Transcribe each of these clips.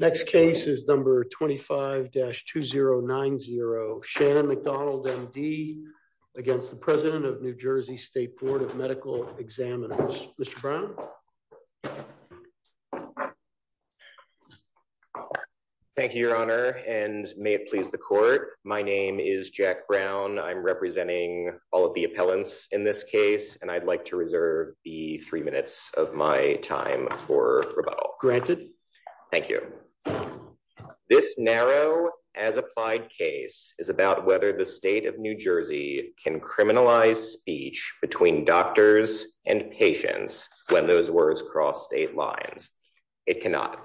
Next case is number 25-2090 Shannon McDonald MD against the President of New Jersey State Board of Medical Examiners. Mr. Brown. Thank you your honor and may it please the court my name is Jack Brown I'm representing all of the appellants in this case and I'd like to reserve the three minutes of my time for rebuttal. Granted. Thank you. This narrow as applied case is about whether the state of New Jersey can criminalize speech between doctors and patients when those words cross state lines. It cannot.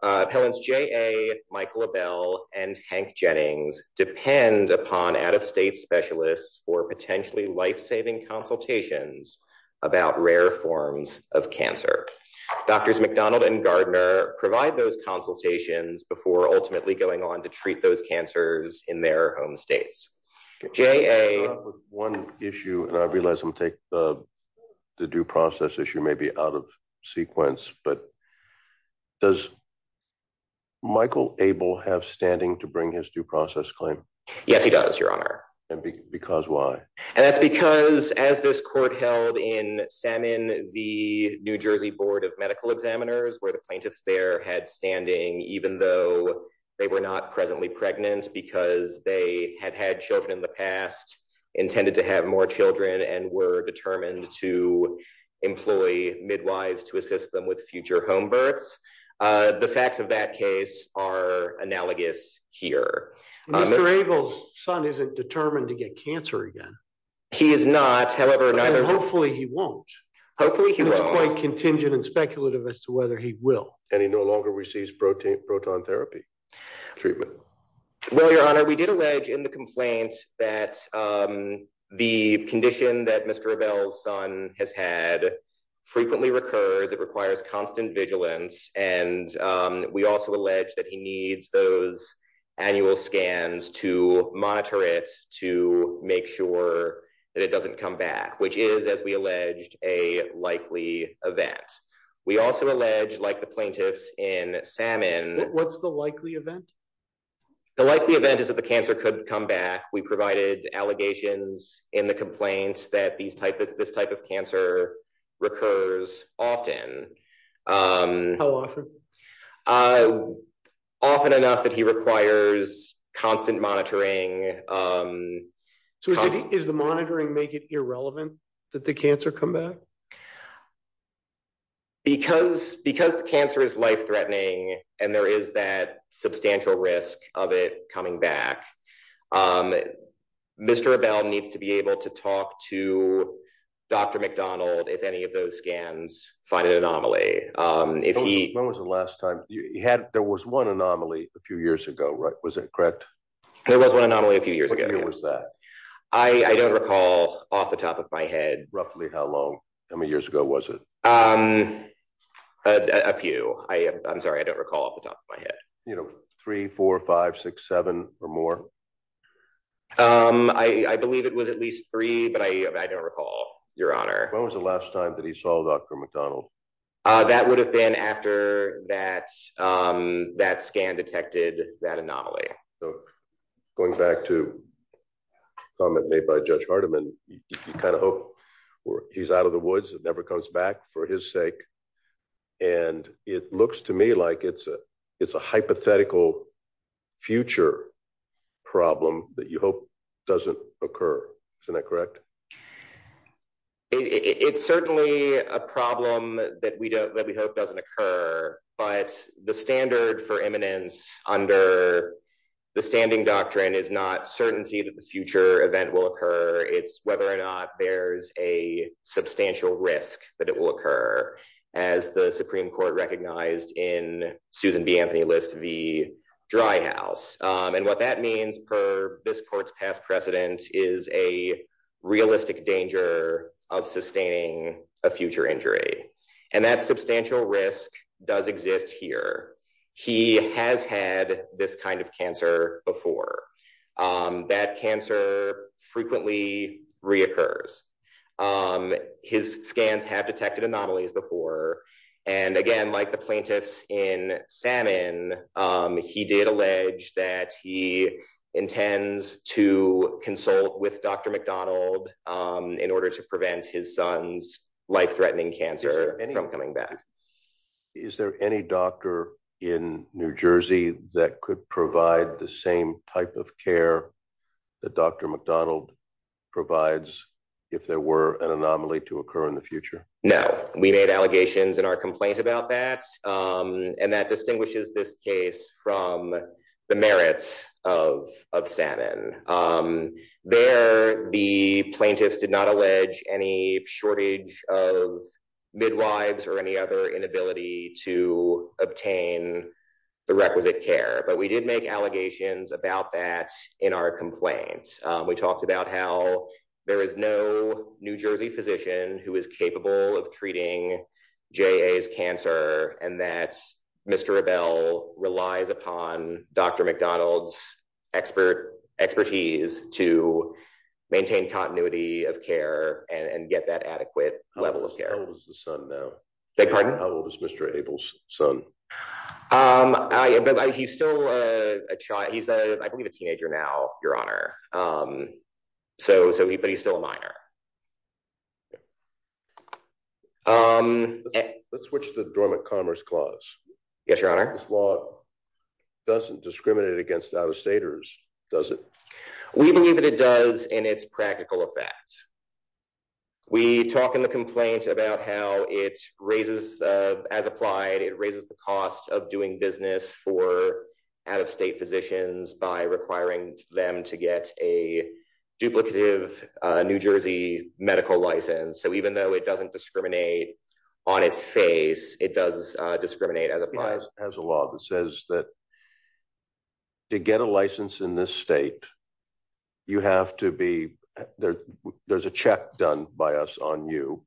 Appellants J.A. Michael Abel and Hank Jennings depend upon out-of-state specialists for potentially life-saving consultations about rare forms of cancer. Doctors McDonald and Gardner provide those consultations before ultimately going on to treat those cancers in their home states. J.A. One issue and I realize I'm take the due process issue may be out of sequence but does Michael Abel have standing to bring his due process claim? Yes he does your honor. And because why? And that's because as this court held in Salmon the New Jersey Board of Medical Examiners where the plaintiffs there had standing even though they were not presently pregnant because they had had children in the past intended to have more children and were determined to employ midwives to assist them with future home births. The Mr. Abel's son isn't determined to get cancer again. He is not. Hopefully he won't. Hopefully he won't. It's quite contingent and speculative as to whether he will. And he no longer receives protein proton therapy treatment. Well your honor we did allege in the complaint that the condition that Mr. Abel's son has had frequently recurs. It requires constant vigilance and we also allege that he needs those annual scans to monitor it to make sure that it doesn't come back. Which is as we alleged a likely event. We also allege like the plaintiffs in Salmon. What's the likely event? The likely event is that the cancer could come back. We provided allegations in the complaints that these type is this type of cancer recurs often. How often? Often enough that he requires constant monitoring. So is the monitoring make it irrelevant that the cancer come back? Because because the cancer is life threatening and there is that substantial risk of it coming back. Mr. Abel needs to be able to talk to Dr. McDonald if any of those scans find an anomaly. If he. When was the last time you had there was one anomaly a few years ago right? Was it correct? There was one anomaly a few years ago. When was that? I don't recall off the top of my head. Roughly how long? How many years ago was it? A few. I'm sorry I don't recall off the top of my head. 34567 or more. I believe it was at least three, but I don't recall your honor. When was the last time that he saw Dr. McDonald? That would have been after that that scan detected that anomaly. So going back to comment made by Judge Hardeman, you kind of hope he's out of the woods. It never comes back for his sake. And it looks to me like it's a it's a hypothetical future problem that you hope doesn't occur. Isn't that correct? It's certainly a problem that we don't that we hope doesn't occur. But the standard for eminence under the standing doctrine is not certainty that the future event will occur. It's whether or not there's a substantial risk that it will occur as the Supreme Court recognized in Susan B. Anthony List v. Dry House. And what that means per this court's past precedent is a realistic danger of sustaining a future injury. And that substantial risk does exist here. He has had this kind of cancer before. That cancer frequently reoccurs. His scans have detected anomalies before. And again, like the in Salmon, he did allege that he intends to consult with Dr. McDonald in order to prevent his son's life threatening cancer from coming back. Is there any doctor in New Jersey that could provide the same type of care that Dr. McDonald provides if there were an anomaly to occur in the future? No, we made allegations in our complaint about that. And that distinguishes this case from the merits of of Salmon. There, the plaintiffs did not allege any shortage of midwives or any other inability to obtain the requisite care. But we did make allegations about that. In our complaint, we talked about how there is no New Jersey physician who is capable of treating J.A.'s cancer and that Mr. Abel relies upon Dr. McDonald's expert expertise to maintain continuity of care and get that adequate level of care. How old is the son now? Beg pardon? How old is Mr. Abel's son? Um, he's still a child. He's, I believe, a teenager now, Your Honor. So so he but he's still a minor. Um, let's switch to the dormant commerce clause. Yes, Your Honor. This law doesn't discriminate against out of staters, does it? We believe that it does in its practical effect. We talk in the complaint about how it raises as applied. It raises the cost of doing business for out of state physicians by requiring them to get a duplicative New Jersey medical license. So even though it doesn't discriminate on its face, it does discriminate as it has a law that says that to get a license in this state, you have to be there. There's a check done by us on you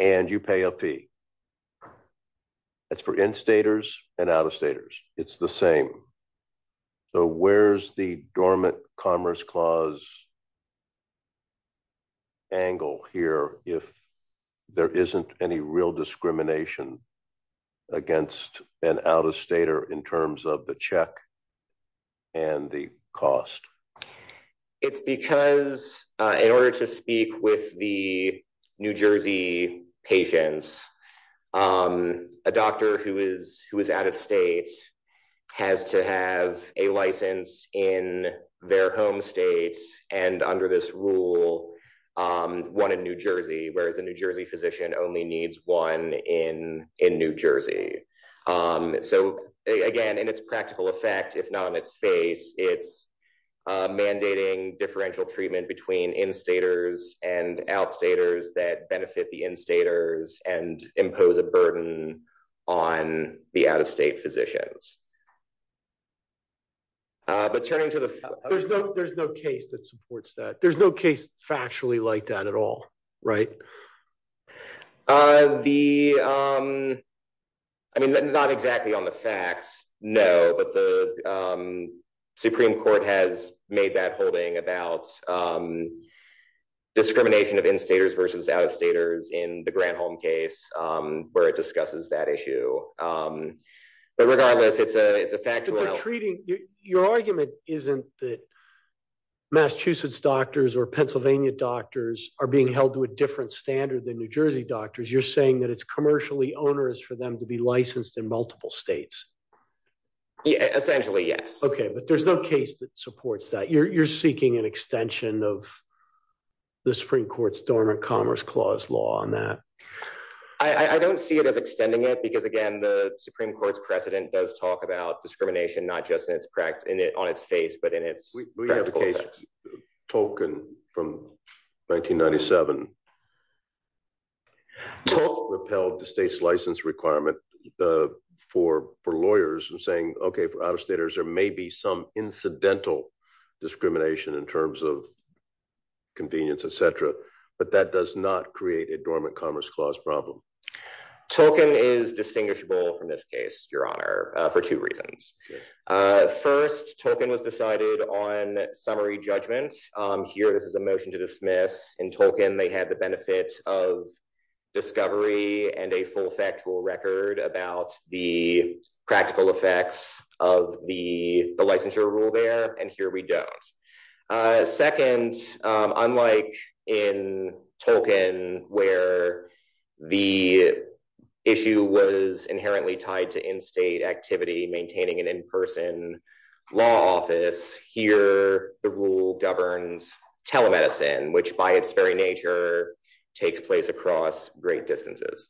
and you pay a fee. That's for instators and out of staters. It's the same. So where's the dormant commerce clause angle here? If there isn't any real discrimination against an out of stater in terms of the check and the cost? It's because in order to speak with the New Jersey patients, um, a doctor who is who is out of state has to have a license in their home state and under this rule, um, one in New Jersey, whereas the New Jersey physician only needs one in in New Jersey. Um, so again, in its practical effect, if not in its face, it's mandating differential treatment between instators and outstaters that benefit the instators and impose a burden on the out of state physicians. But turning to the there's no, there's no case that supports that. There's no case factually like that at all, right? Uh, the, um, I mean, not exactly on the facts. No, but the, um, Supreme Court has made that holding about, um, discrimination of instators versus outstaters in the grant home case, um, where it discusses that issue. Um, but regardless, it's a it's a fact treating your argument isn't that Massachusetts doctors or Pennsylvania doctors are being held to a different standard than New Jersey doctors. You're saying that it's commercially onerous for them to be licensed in multiple states. Essentially. Yes. Okay. But there's no case that supports that you're seeking an extension of the Supreme Court's dormant commerce clause law on that. I don't see it as extending it because again, the Supreme Court's precedent does talk about discrimination, not just in its practice in it on its face, but in its case token from 1997 to repel the state's license requirement for for lawyers and saying, okay, for out of staters, there may be some incidental discrimination in terms of convenience, etcetera. But that does not create a dormant commerce clause problem. Talking is distinguishable from this case, Your Honor, for two reasons. Uh, first token was decided on summary judgment here. This is a motion to dismiss. In token, they had the benefits of discovery and a full factual record about the practical effects of the licensure rule there. And here we don't. Uh, second, unlike in token where the issue was inherently tied to in state activity, maintaining an in person law office here, the rule governs telemedicine, which by its very nature takes place across great distances.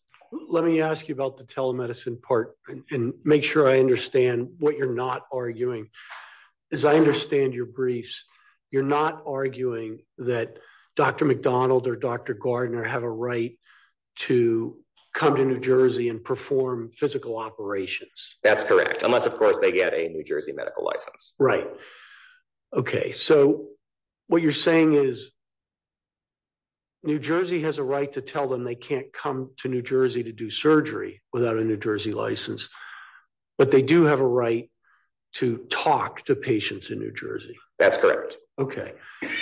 Let me ask you about the telemedicine part and make sure I understand what you're not arguing is I understand your briefs. You're not arguing that Dr McDonald or Dr Gardner have a right to come to New Jersey and perform physical operations. That's correct. Unless, of course, they get a medical license. Right. Okay. So what you're saying is New Jersey has a right to tell them they can't come to New Jersey to do surgery without a New Jersey license. But they do have a right to talk to patients in New Jersey. That's correct. Okay.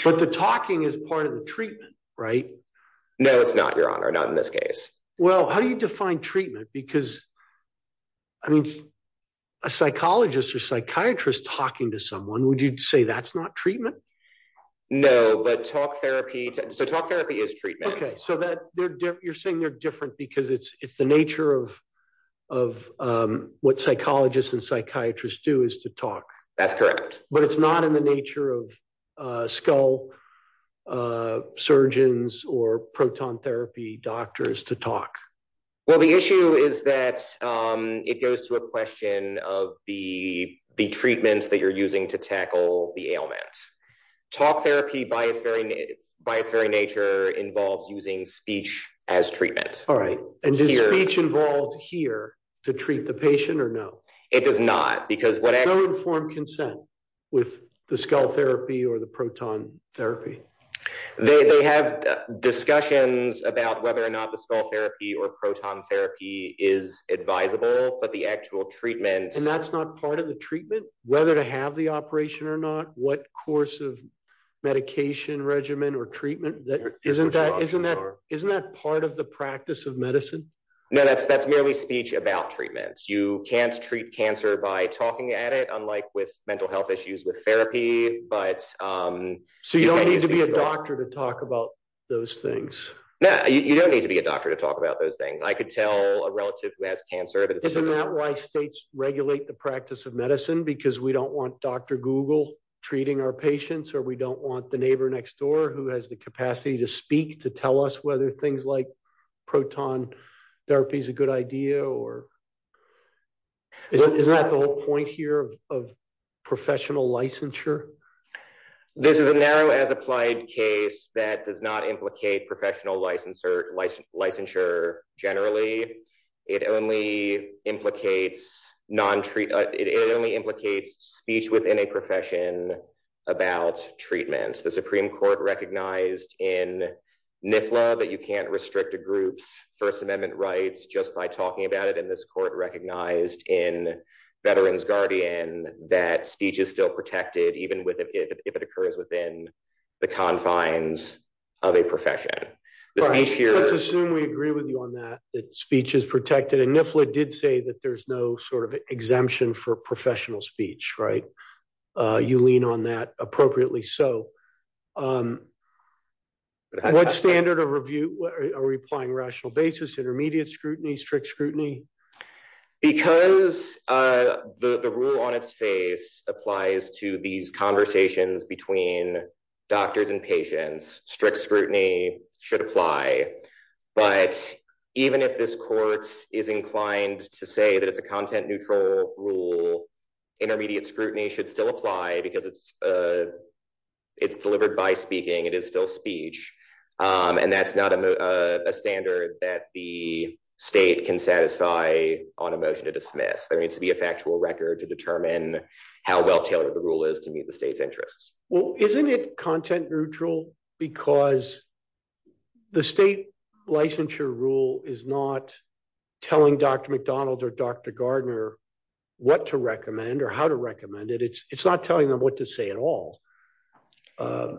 But the talking is part of the treatment, right? No, it's not your honor. Not in this case. Well, how do you define treatment? Because I mean, a psychologist or psychiatrist talking to someone, would you say that's not treatment? No, but talk therapy. So talk therapy is treatment. Okay, so that you're saying they're different because it's it's the nature of of what psychologists and psychiatrists do is to talk. That's correct. But it's not in the nature of skull, uh, surgeons or proton therapy doctors to talk. Well, the issue is that, um, it goes to a question of the treatments that you're using to tackle the ailment. Talk therapy by its very, by its very nature involves using speech as treatment. All right. And do you reach involved here to treat the patient or no? It does not. Because what I don't form consent with the skull therapy or the therapy, they have discussions about whether or not the skull therapy or proton therapy is advisable. But the actual treatments and that's not part of the treatment, whether to have the operation or not. What course of medication regimen or treatment that isn't that isn't that isn't that part of the practice of medicine? No, that's that's merely speech about treatments. You can't treat cancer by talking at it, unlike with mental health issues with therapy. But, um, so you don't need to be a doctor to talk about those things. You don't need to be a doctor to talk about those things. I could tell a relative who has cancer, but isn't that why states regulate the practice of medicine? Because we don't want Dr Google treating our patients, or we don't want the neighbor next door who has the capacity to speak to tell us whether things like proton therapy is a good idea. Or isn't that the whole point here of professional licensure? This is a narrow as applied case that does not implicate professional licensure, licensure, licensure. Generally, it only implicates non treat. It only implicates speech within a profession about treatment. The Supreme Court recognized in NIF law that you can't restrict a group's First Amendment rights just by talking about it. And this court recognized in Veterans Guardian that speech is still protected even with if it occurs within the confines of a profession. Let's assume we agree with you on that. That speech is protected. And NIF law did say that there's no sort of exemption for professional speech, right? You lean on that appropriately. So, um, what standard of review are we applying? Rational basis, intermediate scrutiny, strict scrutiny. Because, uh, the rule on its face applies to these conversations between doctors and patients. Strict scrutiny should apply. But even if this court is inclined to say that it's a content neutral rule, intermediate scrutiny should still apply because it's, uh, it's delivered by speaking. It is still speech, and that's not a standard that the state can satisfy on a motion to dismiss. There needs to be a factual record to determine how well tailored the rule is to meet the state's interests. Well, isn't it content neutral? Because the state licensure rule is not telling Dr McDonald or Dr Gardner what to recommend or how to recommend it. It's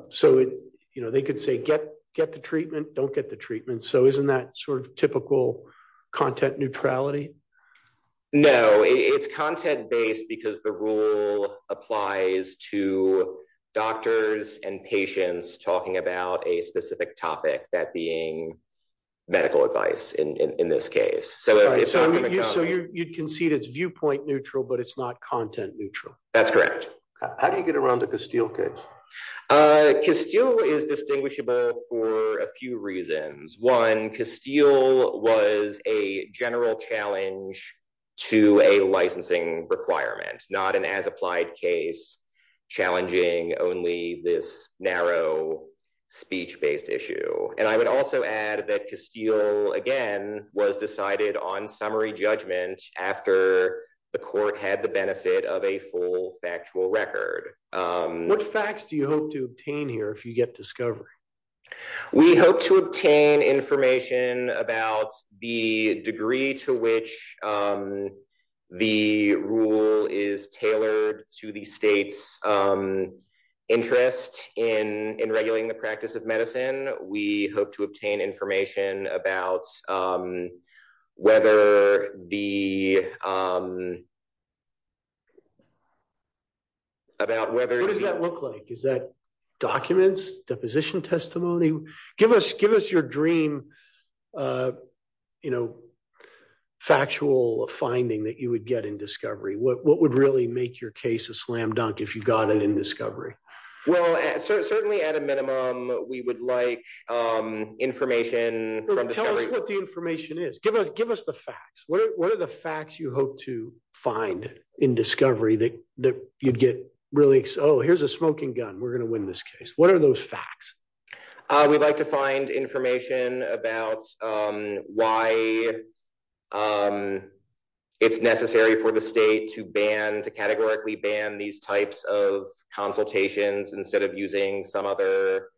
so, you know, they could say, get get the treatment. Don't get the treatment. So isn't that sort of typical content neutrality? No, it's content based because the rule applies to doctors and patients talking about a specific topic that being medical advice in this case. So you concede it's viewpoint neutral, but it's not content neutral. That's correct. How do you get around to Castile case? Uh, Castile is distinguishable for a few reasons. One, Castile was a general challenge to a licensing requirement, not an as applied case, challenging only this narrow speech based issue. And I would also add that Castile again was decided on summary judgment after the court had the of a full factual record. Um, what facts do you hope to obtain here? If you get discovery, we hope to obtain information about the degree to which, um, the rule is tailored to the state's, um, interest in in regulating the practice of in. We hope to obtain information about, um, whether the, um, about whether does that look like? Is that documents? Deposition testimony? Give us give us your dream. Uh, you know, factual finding that you would get in discovery. What would really make your case a slam dunk if you got it in discovery? Well, certainly at a minimum, we would like, um, information from tell us what the information is. Give us give us the facts. What are the facts you hope to find in discovery that you'd get really? Oh, here's a smoking gun. We're gonna win this case. What are those facts? We'd like to find information about, um, why, um, it's necessary for the state to ban to categorically ban these types of consultations instead of using some other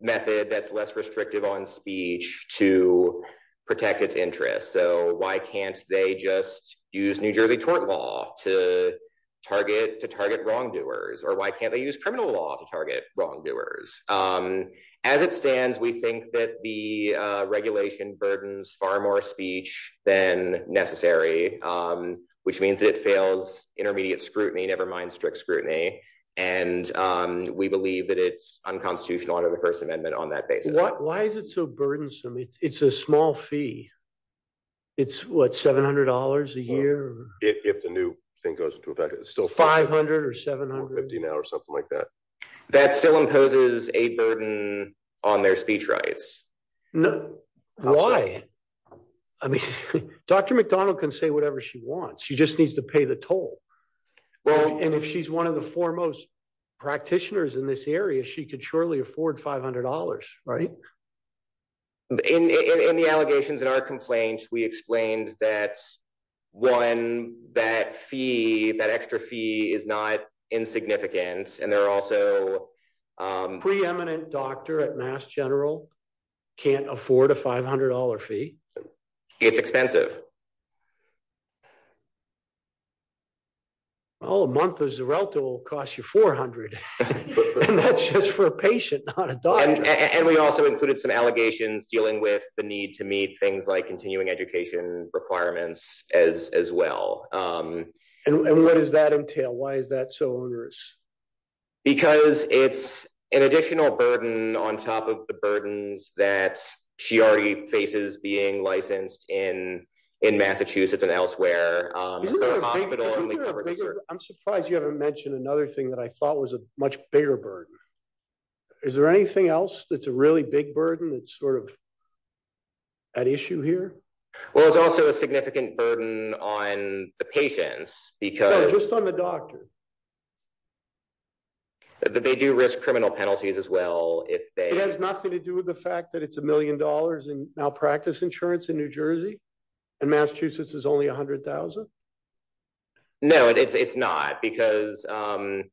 method that's less restrictive on speech to protect its interest. So why can't they just use New Jersey tort law to target to target wrongdoers? Or why can't they use criminal law to target wrongdoers? Um, as it stands, we think that the regulation burdens far more speech than necessary. Um, which means it fails intermediate scrutiny, never mind strict scrutiny. And, um, we believe that it's unconstitutional under the First Amendment on that basis. Why is it so burdensome? It's a small fee. It's what? $700 a year. If the new thing goes into effect, it's still 500 or 700 50 now or something like that. That still imposes a burden on their speech rights. No. Why? I can say whatever she wants. She just needs to pay the toll. Well, and if she's one of the foremost practitioners in this area, she could surely afford $500, right? In in the allegations in our complaints, we explained that one that fee that extra fee is not insignificant. And there are also, um, preeminent doctor at Mass General can't afford a $500 fee. It's expensive. Well, a month is the relative will cost you 400. That's just for a patient, not a dog. And we also included some allegations dealing with the need to meet things like continuing education requirements as as well. Um, and what does that entail? Why is that so onerous? Because it's an additional burden on top of the burdens that she already faces being licensed in in Massachusetts and elsewhere. Um, hospital. I'm surprised you haven't mentioned another thing that I thought was a much bigger burden. Is there anything else that's a really big burden? It's sort of an issue here. Well, it's also a significant burden on the patients because just on the doctor, yeah, but they do risk criminal penalties as well. If they has nothing to do with the fact that it's a million dollars in malpractice insurance in New Jersey and Massachusetts is only 100,000. No, it's not. Because, um,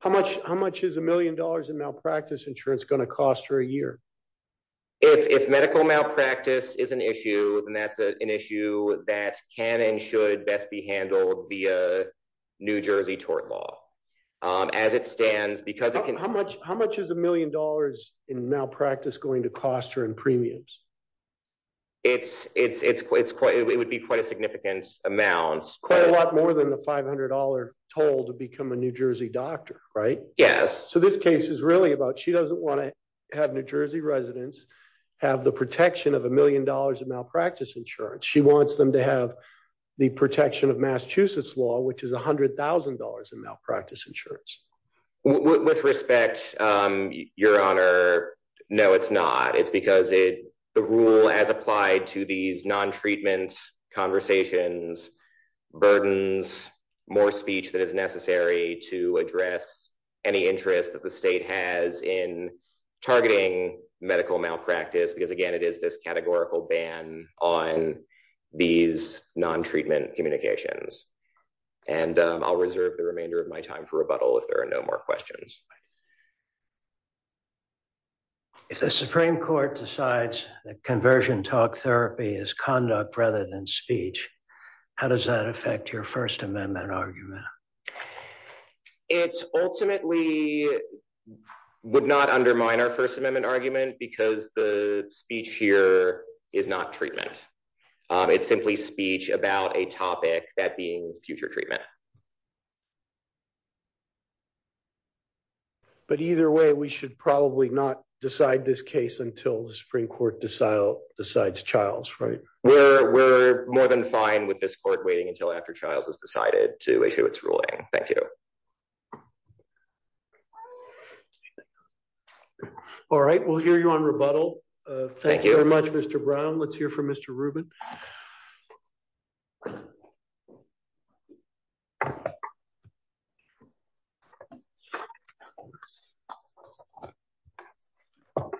how much? How much is a million dollars in malpractice insurance gonna cost her a year? If medical malpractice is an issue, then that's an issue that can and should best be handled via New Jersey tort law. Um, as it stands, because how much? How much is a million dollars in malpractice going to cost her in premiums? It's it's It's quite It would be quite a significant amounts quite a lot more than the $500 told to become a New Jersey doctor, right? Yes. So this case is really about. She doesn't want to have New Jersey residents have the protection of a million dollars of malpractice insurance. She wants them to have the protection of Massachusetts law, which is $100,000 in malpractice insurance. With respect, your honor. No, it's not. It's because it the rule as applied to these non treatment conversations burdens more speech that is necessary to address any interest that the state has in targeting medical malpractice. Because again, it is this categorical ban on these non treatment communications, and I'll reserve the remainder of my time for rebuttal if there are no more questions. If the Supreme Court decides that conversion talk therapy is conduct rather than speech, how does that affect your First Amendment argument? It's ultimately would not undermine our First Amendment argument because the speech here is not treatment. It's simply speech about a topic that being future treatment. But either way, we should probably not decide this case until the Supreme Court decide decides. Child's right. We're more than fine with this court waiting until after child's has decided to issue its ruling. Thank you. Yeah. All right. We'll hear you on rebuttal. Thank you very much, Mr Brown. Let's hear from Mr Ruben. Uh huh. Uh huh. Thanks.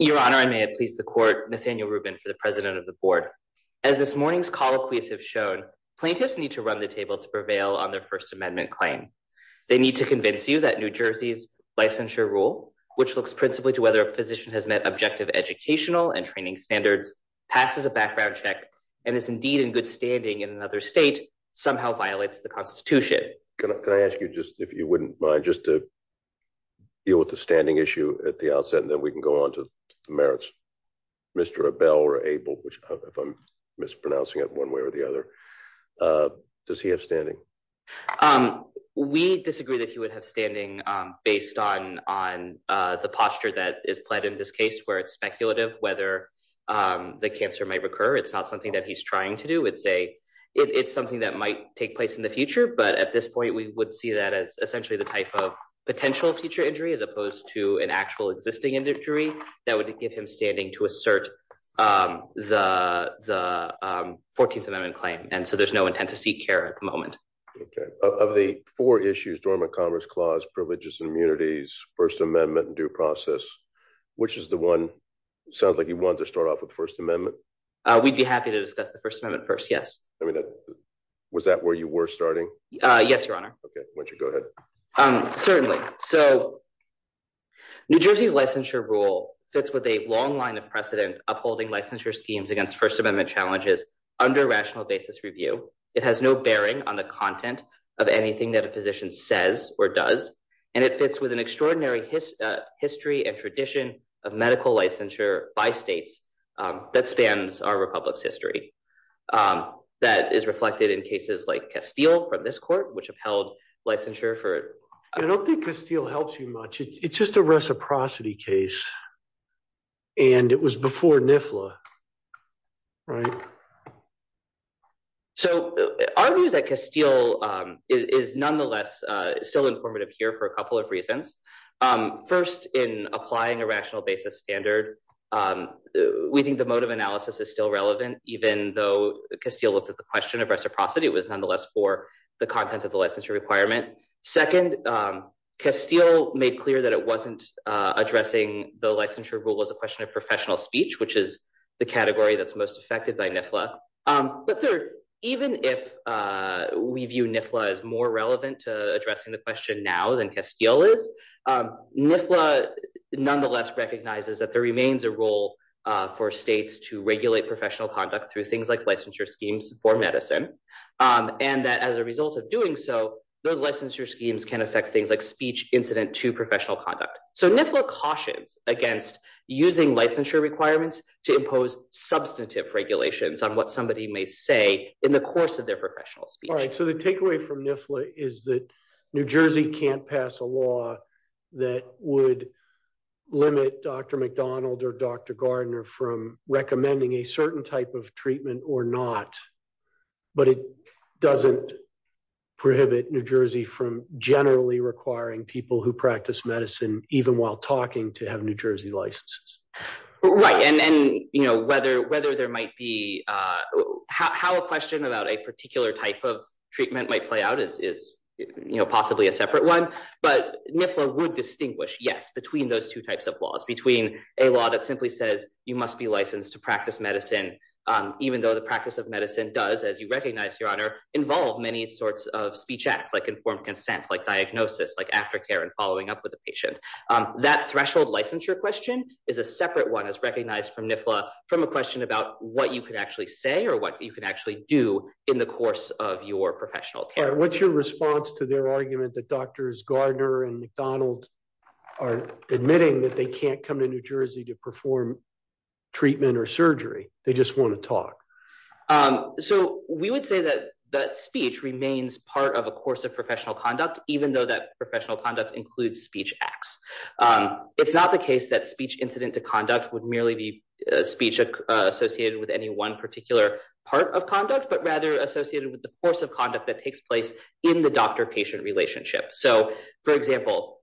Your honor, I may have pleased the court Nathaniel Ruben for the president of the board. As this morning's call, please have shown plaintiffs need to run the table to prevail on their First Amendment claim. They need to convince you that New Jersey's licensure rule, which looks principally to whether a physician has met objective educational and training standards, passes a background check and is indeed in good standing in another state somehow violates the Constitution. Can I ask you just if you wouldn't mind just to deal with the standing issue at the outset, and then we can go on to the Mr Abel or Abel, which if I'm mispronouncing it one way or the other, uh, does he have standing? Um, we disagree that he would have standing based on on the posture that is pled in this case where it's speculative whether, um, the cancer might recur. It's not something that he's trying to do. It's a it's something that might take place in the future. But at this point, we would see that as essentially the type of potential future injury as opposed to an actual existing injury. That would give him standing to assert the 14th Amendment claim. And so there's no intent to seek care at the moment of the four issues. Dormant Commerce Clause, privileges and immunities, First Amendment due process, which is the one sounds like you want to start off with First Amendment. We'd be happy to discuss the First Amendment first. Yes, I mean, was that where you were starting? Yes, Your Honor. Okay, why don't you go ahead? Um, certainly. So New Jersey's licensure rule fits with a long line of precedent upholding licensure schemes against First Amendment challenges under rational basis review. It has no bearing on the content of anything that a physician says or does, and it fits with an extraordinary history and tradition of medical licensure by states that spans our republic's history. Um, that is reflected in cases like Castile from this court, which upheld licensure for I don't think Castile helps you much. It's just a reciprocity case, and it was before NIFLA, right? So our view is that Castile is nonetheless still informative here for a couple of reasons. First, in applying a rational basis standard, we think the motive analysis is still relevant, even though Castile looked at the question of reciprocity was nonetheless for the content of the licensure requirement. Second, Castile made clear that it wasn't addressing the licensure rule as a question of professional speech, which is the category that's most affected by NIFLA. But third, even if we view NIFLA is more relevant to addressing the question now than Castile is, NIFLA nonetheless recognizes that there remains a role for states to regulate professional conduct through things like licensure schemes for medicine. Um, and that as a result of doing so, those licensure schemes can affect things like speech incident to professional conduct. So NIFLA cautions against using licensure requirements to impose substantive regulations on what somebody may say in the course of their professional speech. So the takeaway from NIFLA is that New Jersey can't pass a law that would limit Dr McDonald or Dr. Gardner from recommending a certain type of treatment or not. But it doesn't prohibit New Jersey from generally requiring people who practice medicine even while talking to have New Jersey licenses. Right. And then, you know, whether whether there might be how a question about a particular type of treatment might play out is, you know, possibly a separate one. But NIFLA would distinguish, yes, between those two types of laws, between a law that simply says you must be licensed to practice medicine, even though the practice of medicine does, as you recognize, your honor, involve many sorts of speech acts like informed consent, like diagnosis, like aftercare and following up with the patient. That threshold licensure question is a separate one is recognized from NIFLA from a question about what you could actually say or what you could actually do in the course of your professional care. What's your response to their argument that doctors Gardner and McDonald are admitting that they can't come to New Jersey to perform treatment or surgery? They just want to talk. So we would say that that speech remains part of a course of professional conduct, even though that professional conduct includes speech acts. It's not the case that speech incident to conduct would merely be speech associated with any one particular part of conduct, but rather associated with the course of conduct that takes place in the doctor patient relationship. So, for example,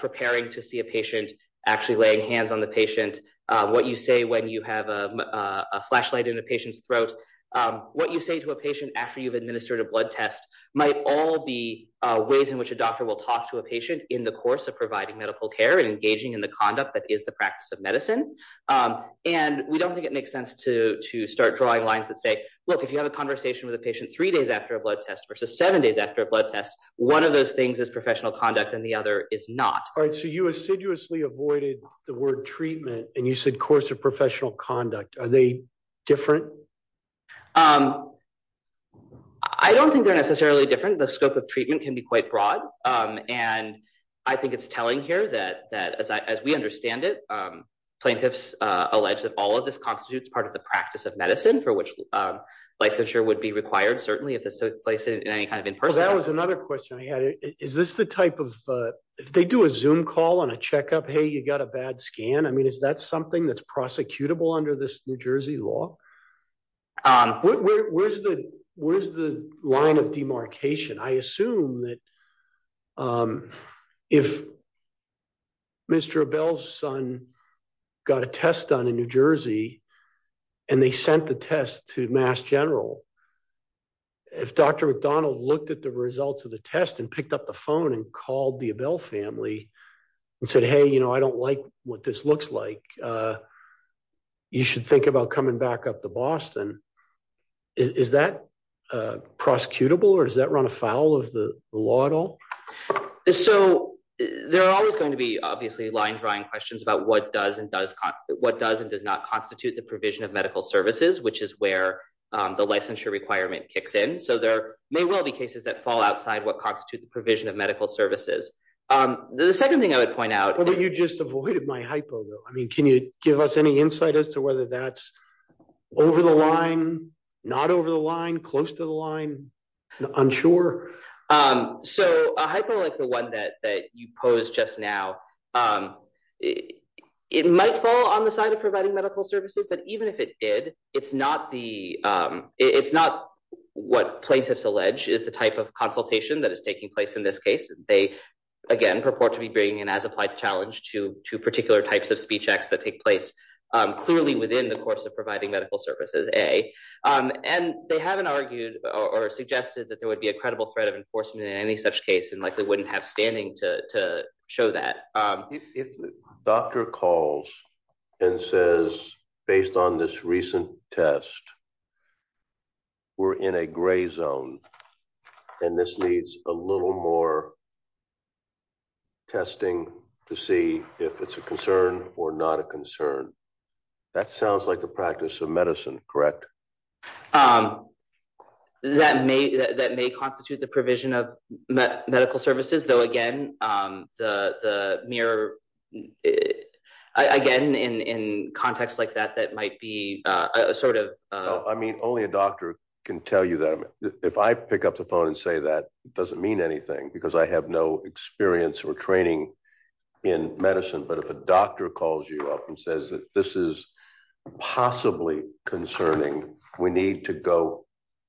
preparing to see a patient actually laying hands on the patient. What you say when you have a flashlight in a patient's throat, what you say to a patient after you've administered a blood test might all be ways in which a doctor will talk to a patient in the course of providing medical care and engaging in the conduct that is the practice of medicine. And we don't think it makes sense to to start drawing lines that say, look, if you have a conversation with a patient three days after a blood test versus seven days after a blood test, one of those things is professional conduct and the other is not. All right. So you assiduously avoided the word treatment and you said course of professional conduct. Are they different? I don't think they're necessarily different. The scope of treatment can be quite broad. And I think it's telling here that that as we understand it, plaintiffs allege that all of this constitutes part of the practice of medicine for which licensure would be required, certainly if this took place in any kind of in person. That was another question I had. Is this the type of if they do a zoom call on a checkup, hey, you got a bad scan. I mean, is that something that's prosecutable under this New Jersey law? Where's the where's the line of demarcation? I assume that if. Mr. Bell's son got a test done in New Jersey and they sent the test to Mass General. If Dr. McDonald looked at the results of the test and picked up the phone and called the Bell family and said, hey, you know, I don't like what this looks like. Uh, you should think about coming back up to Boston. Is that prosecutable or does that run afoul of the law at all? So there are always going to be obviously line drawing questions about what does and does what does and does not constitute the provision of medical services, which is where the licensure requirement kicks in. So there may well be cases that fall outside what constitute the provision of medical services. Um, the second thing I would point out, but you just avoided my hypo. I mean, can you give us any insight as to whether that's over the line, not over the line, close to the line? I'm sure. Um, so I like the one that that you pose just now. Um, it might fall on the side of providing medical services. But even if it did, it's not the it's not what plaintiffs allege is the type of consultation that is taking place in this case. They again purport to be bringing in as applied challenge to two particular types of speech acts that take place clearly within the course of providing medical services. A. Um, and they haven't argued or suggested that there would be a credible threat of enforcement in any such case and likely wouldn't have standing to to show that, um, if the doctor calls and says, based on this recent test, we're in a gray zone and this needs a little more testing to see if it's a concern or not a concern. That sounds like the practice of medicine. Correct? Um, that may that may constitute the provision of medical services, though. Again, um, the mirror again in in context like that, that might be sort of, I mean, only a doctor can tell you that if I pick up the phone and say that doesn't mean anything because I have no experience or training in medicine. But if a doctor calls you up and says that this is possibly concerning, we need to go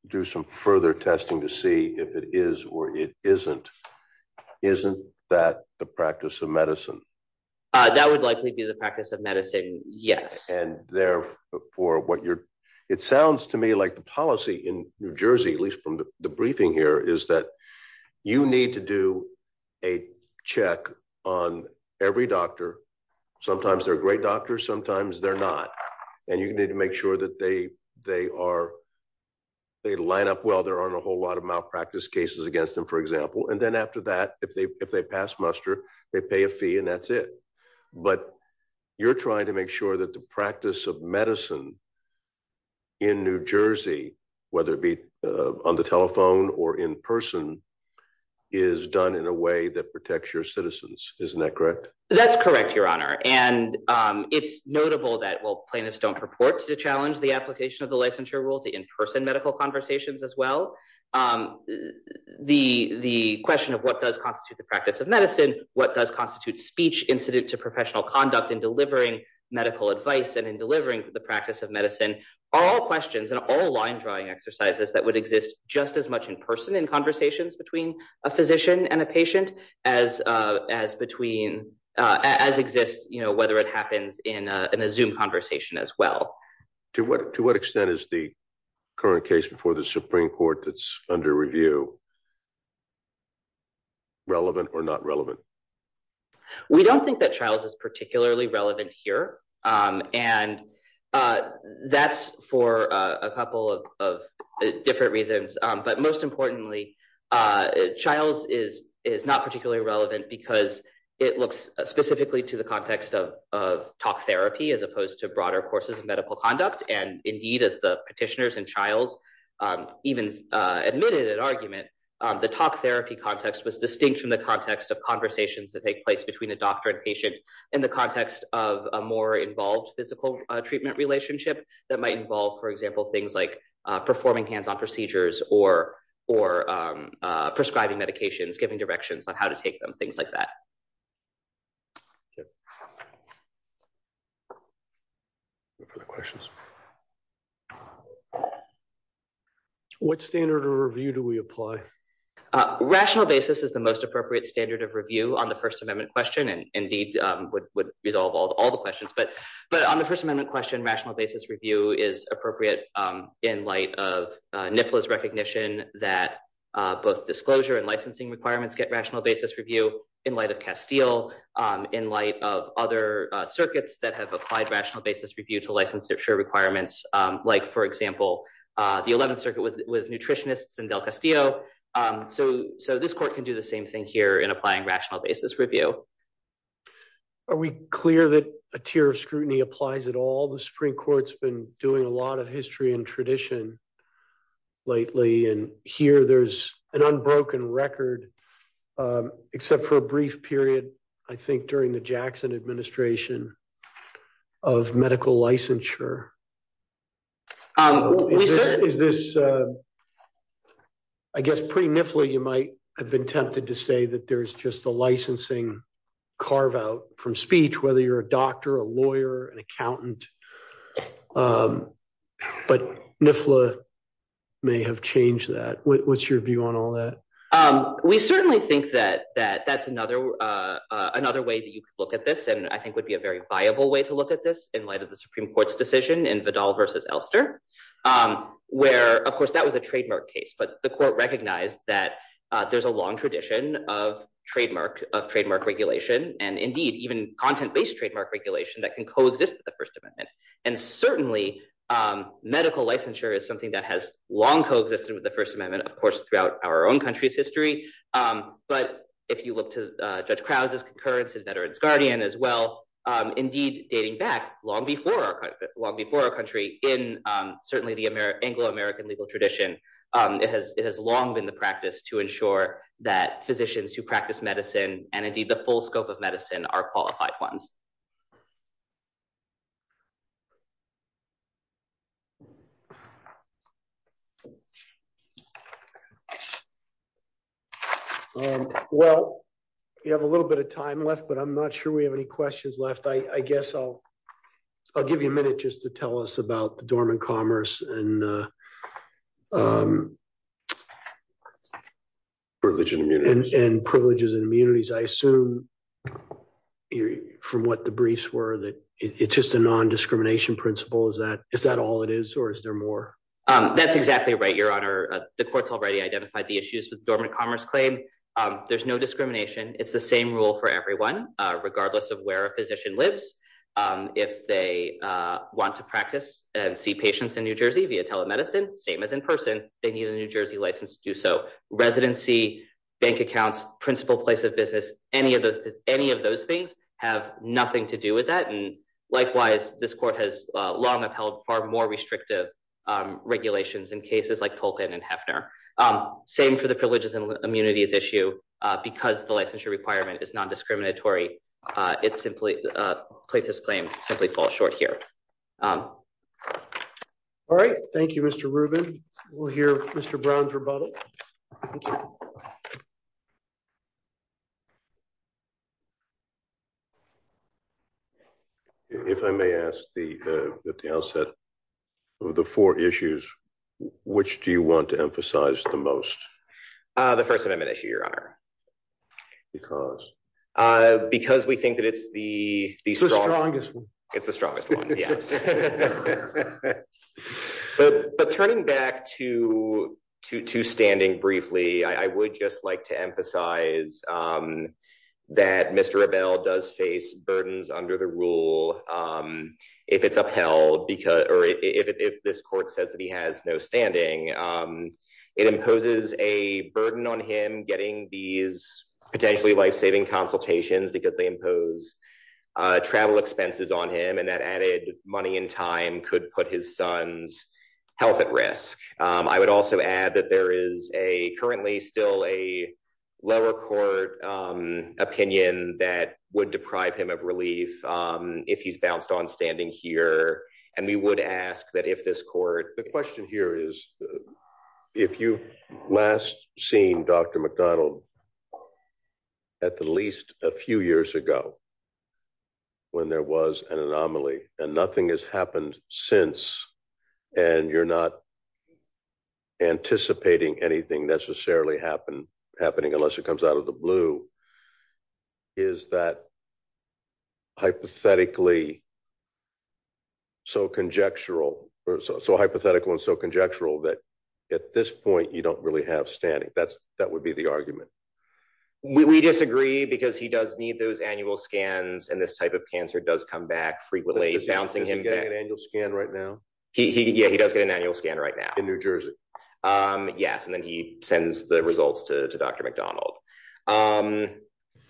do some further testing to see if it is or it isn't. Isn't that the practice of medicine? Uh, that would likely be the practice of medicine. Yes. And therefore what you're it sounds to me like the policy in New Jersey, at least from the briefing here, is that you need to do a check on every doctor. Sometimes they're great doctors, sometimes they're not. And you need to make sure that they they are, they line up. Well, there aren't a whole lot of malpractice cases against him, for example. And then after that, if they if they pass muster, they pay a fee and that's it. But you're trying to make sure that the practice of medicine in New Jersey, whether it be on the telephone or in person, is done in a way that protects your citizens. Isn't that correct? That's correct, Your Honor. And, um, it's notable that will plaintiffs don't purport to challenge the application of the licensure rule to in person medical conversations as well. Um, the the question of what does constitute the practice of medicine? What does constitute speech incident to professional conduct in delivering medical advice and in delivering the practice of medicine are all questions and all line drawing exercises that would exist just as much in person in conversations between a physician and a patient as, uh, as between, uh, as you know, whether it happens in a zoom conversation as well. To what? To what extent is the current case before the Supreme Court that's under review relevant or not relevant? We don't think that trials is particularly relevant here. Um, and, uh, that's for a couple of different reasons. But most importantly, uh, trials is is not particularly relevant because it looks specifically to the context of, of talk therapy as opposed to broader courses of medical conduct. And indeed, as the petitioners and trials, um, even, uh, admitted an argument. Um, the talk therapy context was distinct from the context of conversations that take place between a doctor and patient in the context of a more involved physical treatment relationship that might involve, for example, things like, uh, performing hands on procedures or, or, um, uh, prescribing medications, giving directions on how to take them, things like that. For the questions. What standard or review do we apply? Uh, rational basis is the most appropriate standard of review on the first amendment question. And indeed, um, would resolve all the questions. But, but on the first amendment question, rational basis review is appropriate, um, in light of, uh, both disclosure and licensing requirements, get rational basis review in light of Castile, um, in light of other circuits that have applied rational basis review to licensure requirements. Um, like for example, uh, the 11th circuit with nutritionists and Del Castillo. Um, so, so this court can do the same thing here in applying rational basis review. Are we clear that a tier of scrutiny applies at all? The Supreme Court's been doing a lot of history and tradition lately. And here there's an unbroken record, um, except for a brief period, I think during the Jackson administration of medical licensure. Um, is this, uh, I guess pretty niffly, you might have been tempted to say that there's just the licensing carve out from speech, whether you're a doctor, a lawyer, an um, but Nifla may have changed that. What's your view on all that? Um, we certainly think that, that, that's another, uh, uh, another way that you could look at this and I think would be a very viable way to look at this in light of the Supreme Court's decision in Vidal versus Elster. Um, where of course that was a trademark case, but the court recognized that, uh, there's a long tradition of trademark of trademark regulation and indeed even content based trademark regulation that can coexist with the first amendment. And certainly, um, medical licensure is something that has long coexisted with the first amendment, of course, throughout our own country's history. Um, but if you look to judge Krause's concurrence and veterans guardian as well, um, indeed dating back long before, long before our country in, um, certainly the American Anglo American legal tradition, um, it has, it has long been the practice to ensure that physicians who practice medicine and indeed the full scope of medicine are qualified ones. Well, you have a little bit of time left, but I'm not sure we have any questions left. I guess I'll, I'll give you a minute just to tell us about the dormant commerce and, uh, um, yeah. Privileges and immunities. I assume from what the briefs were that it's just a non discrimination principle. Is that, is that all it is or is there more? Um, that's exactly right. Your honor, the court's already identified the issues with dormant commerce claim. Um, there's no discrimination. It's the same rule for everyone, regardless of where a physician lives. Um, if they, uh, want to practice and see patients in New Jersey via telemedicine, same as in person, they need a New Jersey license to do so. Residency bank accounts, principal place of business, any of the, any of those things have nothing to do with that. And likewise, this court has long upheld far more restrictive regulations in cases like Tolkien and Hefner. Um, same for the privileges and immunities issue because the licensure requirement is non discriminatory. Uh, it's simply, uh, plaintiff's claim simply fall short here. Um, all right. Thank you, Mr Ruben. We'll hear Mr Brown's rebuttal. If I may ask the, uh, the outset of the four issues, which do you want to emphasize the most? Uh, the first amendment issue, your honor, because, uh, because we think that it's the strongest, it's the strongest one. Yes. But turning back to to to standing briefly, I would just like to emphasize, um, that Mr Abel does face burdens under the rule. Um, if it's upheld because if this court says that he has no standing, um, it imposes a burden on him getting these potentially life saving consultations because they impose travel expenses on him. And that added money and time could put his son's health at risk. I would also add that there is a currently still a lower court opinion that would deprive him of relief if he's bounced on standing here. And we would ask that if this court the question here is if you last seen dr mcdonald at the least a few years ago when there was an anomaly and nothing has happened since and you're not anticipating anything necessarily happen happening unless it comes out of the blue is that hypothetically really so conjectural or so hypothetical and so conjectural that at this point you don't really have standing. That's that would be the argument. We disagree because he does need those annual scans and this type of cancer does come back frequently bouncing him getting an annual scan right now. Yeah, he does get an annual scan right now in new jersey. Um, yes. And then he sends the results to dr mcdonald. Um,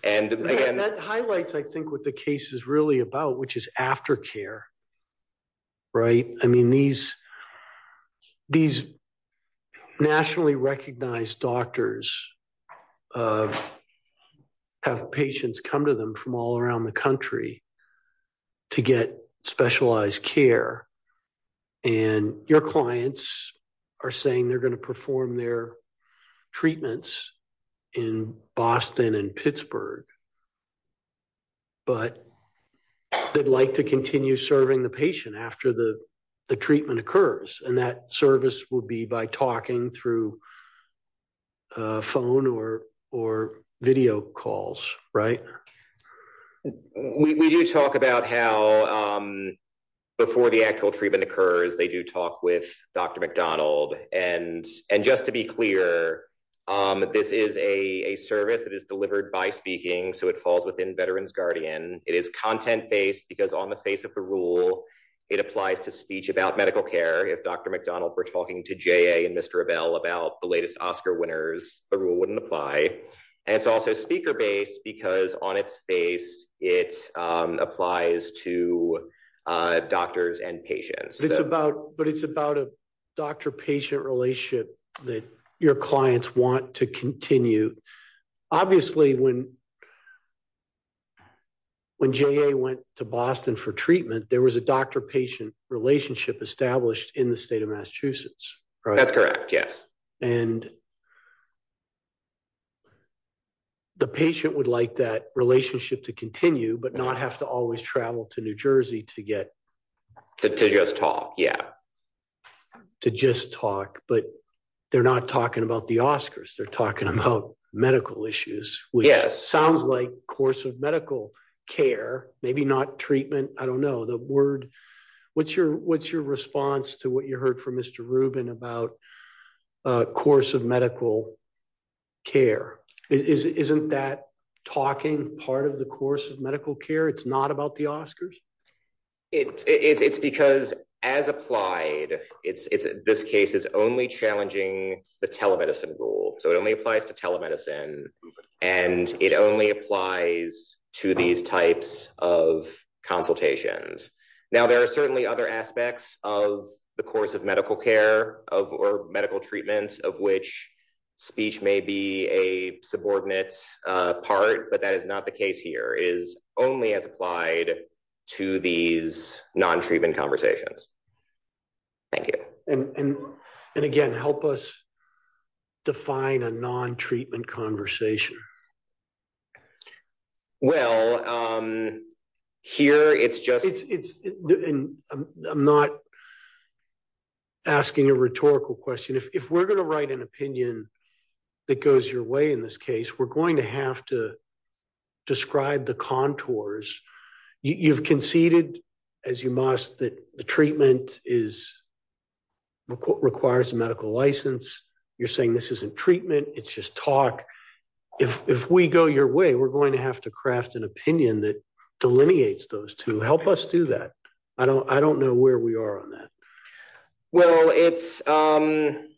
and again, that highlights I think what the case is really about, which is after care, right? I mean, these these nationally recognized doctors, uh, have patients come to them from all around the country to get specialized care. And your clients are saying they're going to perform their treatments in boston and Pittsburgh. Word. But they'd like to continue serving the patient after the treatment occurs. And that service would be by talking through phone or or video calls, right? We do talk about how, um, before the actual treatment occurs, they do talk with dr mcdonald and and just to be clear, um, this is a service that is heard by speaking. So it falls within veterans guardian. It is content based because on the face of the rule, it applies to speech about medical care. If dr mcdonald, we're talking to J. A. And Mr Avell about the latest Oscar winners, the rule wouldn't apply. And it's also speaker based because on its face, it applies to, uh, doctors and patients. It's about, but it's about a doctor patient relationship that your clients want to continue. Obviously, when when J. A. Went to boston for treatment, there was a doctor patient relationship established in the state of Massachusetts. That's correct. Yes. And the patient would like that relationship to continue but not have to always travel to New Jersey to get to just talk. Yeah, to just talk. But they're not talking about the Oscars. They're talking about medical issues. Which sounds like course of medical care, maybe not treatment. I don't know the word. What's your, what's your response to what you heard from Mr Rubin about a course of medical care? Isn't that talking part of the course of medical care? It's not about the Oscars. It's because as applied, it's this case is only challenging the telemedicine rule. So it only applies to telemedicine and it only applies to these types of consultations. Now, there are certainly other aspects of the course of medical care of or medical treatments of which speech may be a subordinate part. But that is not the case here is only as applied to these non treatment conversations. Thank you. And again, help us define a non treatment conversation. Well, um, here it's just, it's, I'm not asking a rhetorical question. If we're going to write an opinion that goes your way in this case, we're going to have to describe the contours. You've conceded as you must that the treatment is requires a medical license. You're saying this isn't treatment, it's just talk. If if we go your way, we're going to have to craft an opinion that delineates those to help us do that. I don't, I don't know where we are on that. Well, it's, um,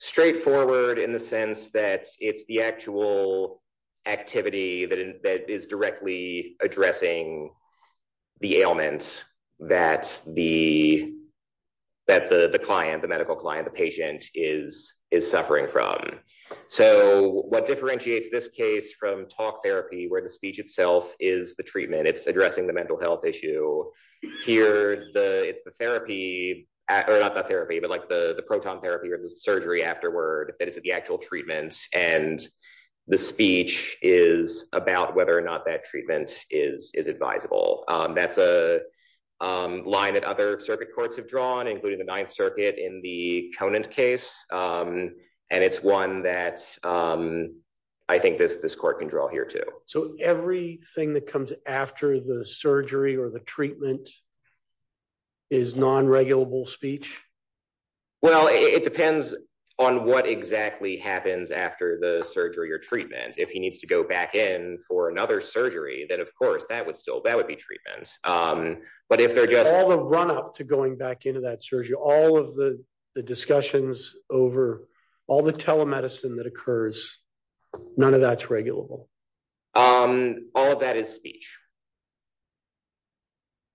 straightforward in the sense that it's the actual activity that is directly addressing the ailments that the, that the client, the medical client, the patient is, is suffering from. So what differentiates this case from talk therapy, where the speech itself is the treatment, it's addressing the mental health issue. Here, the it's the therapy, or not the therapy, but like the the proton therapy or the surgery afterward, that is the actual treatment. And the speech is about whether or not that treatment is is advisable. That's a line that other circuit courts have drawn, including the Ninth Circuit in the Conan case. And it's one that I think this this court can draw here too. So everything that comes after the surgery or the treatment is non regulable speech? Well, it depends on what exactly happens after the surgery or treatment. If he needs to go back in for another surgery, then of course, that would still that would be treatment. Um, but if they're just all the run up to going back into that surgery, all of the discussions over all the telemedicine that occurs, none of that's regulable. Um, all of that is speech.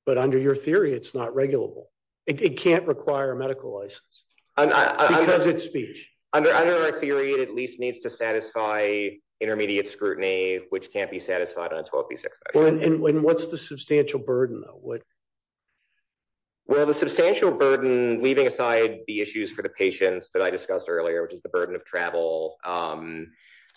But under your theory, it's not regulable. It can't require a medical license. Because it's speech under under a theory, it at least needs to satisfy intermediate scrutiny, which can't be satisfied on 12 p six. And what's the substantial burden? What? Well, the substantial burden leaving aside the issues for the patients that I discussed earlier, which is the burden of travel, um,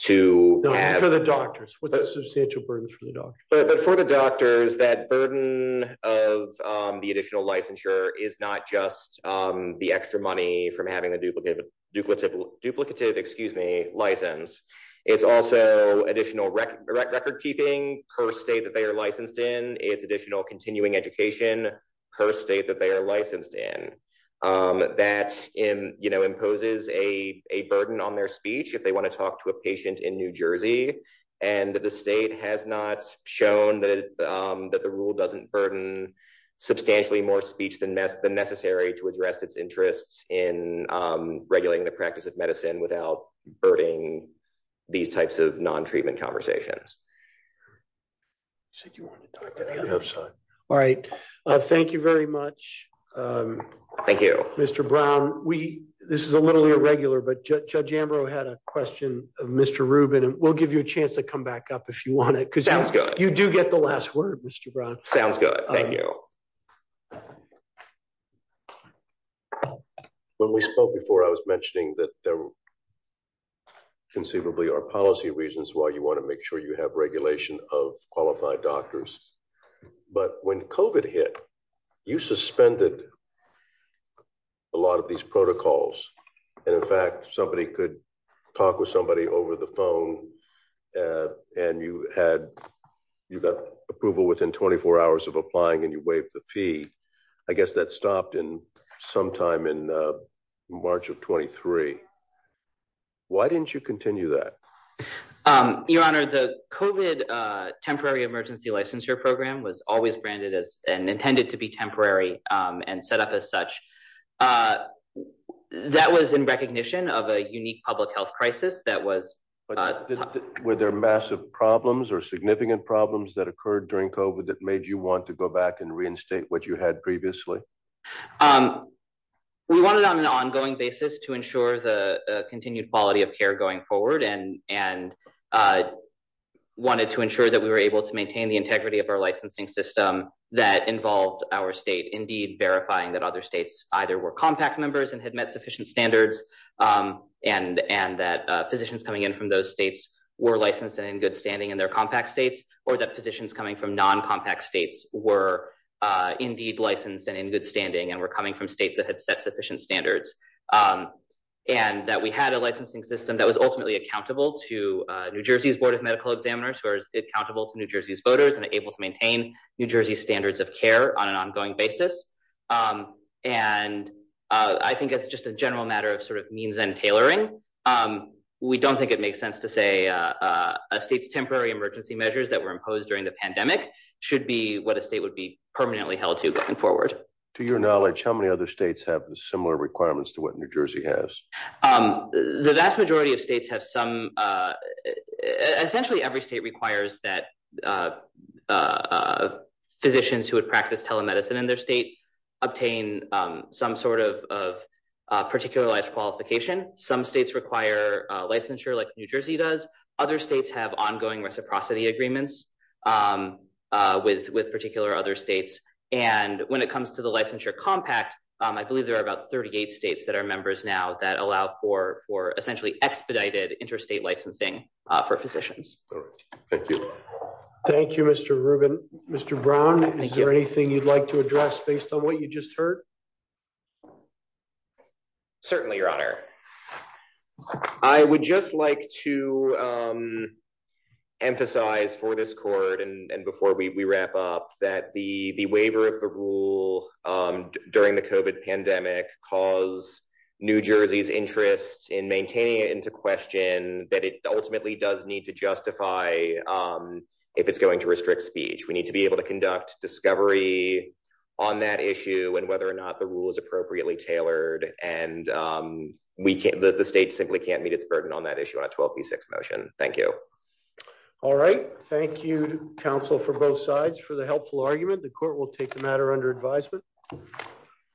to for the doctors with the substantial burden for the doctor. But for the doctors, that burden of the additional licensure is not just, um, the extra money from having the duplicate duplicative, excuse me, license. It's also additional record keeping per state that they are licensed in. It's additional continuing education per state that they are licensed in. Um, that in, you know, imposes a burden on their speech if they want to talk to a patient in New Jersey. And the state has not shown that, um, that the rule doesn't burden substantially more speech than the necessary to address its interests in, um, regulating the practice of medicine without burdening these types of non treatment conversations. So you want to talk to the other side? All right. Thank you very much. Um, thank you, Mr Brown. We this is a little irregular, but Judge Ambrose had a question of Mr Ruben and we'll give you a chance to come back up if you want it because you do get the last word, Mr Brown. Sounds good. Thank you. When we spoke before, I was mentioning that there conceivably our policy reasons why you want to make sure you have regulation of qualified doctors. But when Covid hit, you suspended a lot of these protocols. And in fact, somebody could talk with somebody over the phone. Uh, and you had you got approval within 24 hours of applying and you waive the fee. I guess that stopped in some time in March of 23. Why didn't you continue that? Um, your honor, the Covid temporary emergency licensure program was always branded as and intended to be temporary on set up as such. Uh, that was in recognition of a unique public health crisis. That was with their massive problems or significant problems that occurred during Covid that made you want to go back and reinstate what you had previously. Um, we wanted on an ongoing basis to ensure the continued quality of care going forward and and, uh, wanted to ensure that we were able to maintain the integrity of our licensing system that involved our state indeed verifying that other states either were compact members and had met sufficient standards. Um, and and that physicians coming in from those states were licensed and in good standing in their compact states or that positions coming from non compact states were, uh, indeed licensed and in good standing and we're coming from states that had set sufficient standards. Um, and that we had a licensing system that was ultimately accountable to New Jersey's board of medical examiners who are accountable to New Jersey's voters and able to maintain New Jersey standards of care on an ongoing basis. Um, and I think it's just a general matter of sort of means and tailoring. Um, we don't think it makes sense to say, uh, a state's temporary emergency measures that were imposed during the pandemic should be what a state would be permanently held to going forward. To your knowledge, how many other states have similar requirements to what New Jersey has? Um, the vast majority of states have some, uh, essentially every state requires that, uh, uh, physicians who would practice telemedicine in their state obtain some sort of particular life qualification. Some states require licensure like New Jersey does. Other states have ongoing reciprocity agreements, um, with with particular other states. And when it comes to the licensure compact, I believe there are about 38 states that are members now that allow for for essentially expedited interstate licensing for physicians. Thank you. Thank you, Mr Ruben. Mr Brown, is there anything you'd like to address based on what you just heard? Mhm. Certainly, Your Honor, I would just like to, um, emphasize for this court and before we wrap up that the waiver of the rule, um, during the covid pandemic cause New Jersey's interests in maintaining it into question that it ultimately does need to justify. Um, if it's going to restrict speech, we able to conduct discovery on that issue and whether or not the rule is appropriately tailored. And, um, we can't the state simply can't meet its burden on that issue on a 12 to 6 motion. Thank you. All right. Thank you, counsel for both sides. For the helpful argument, the court will take the matter under advisement.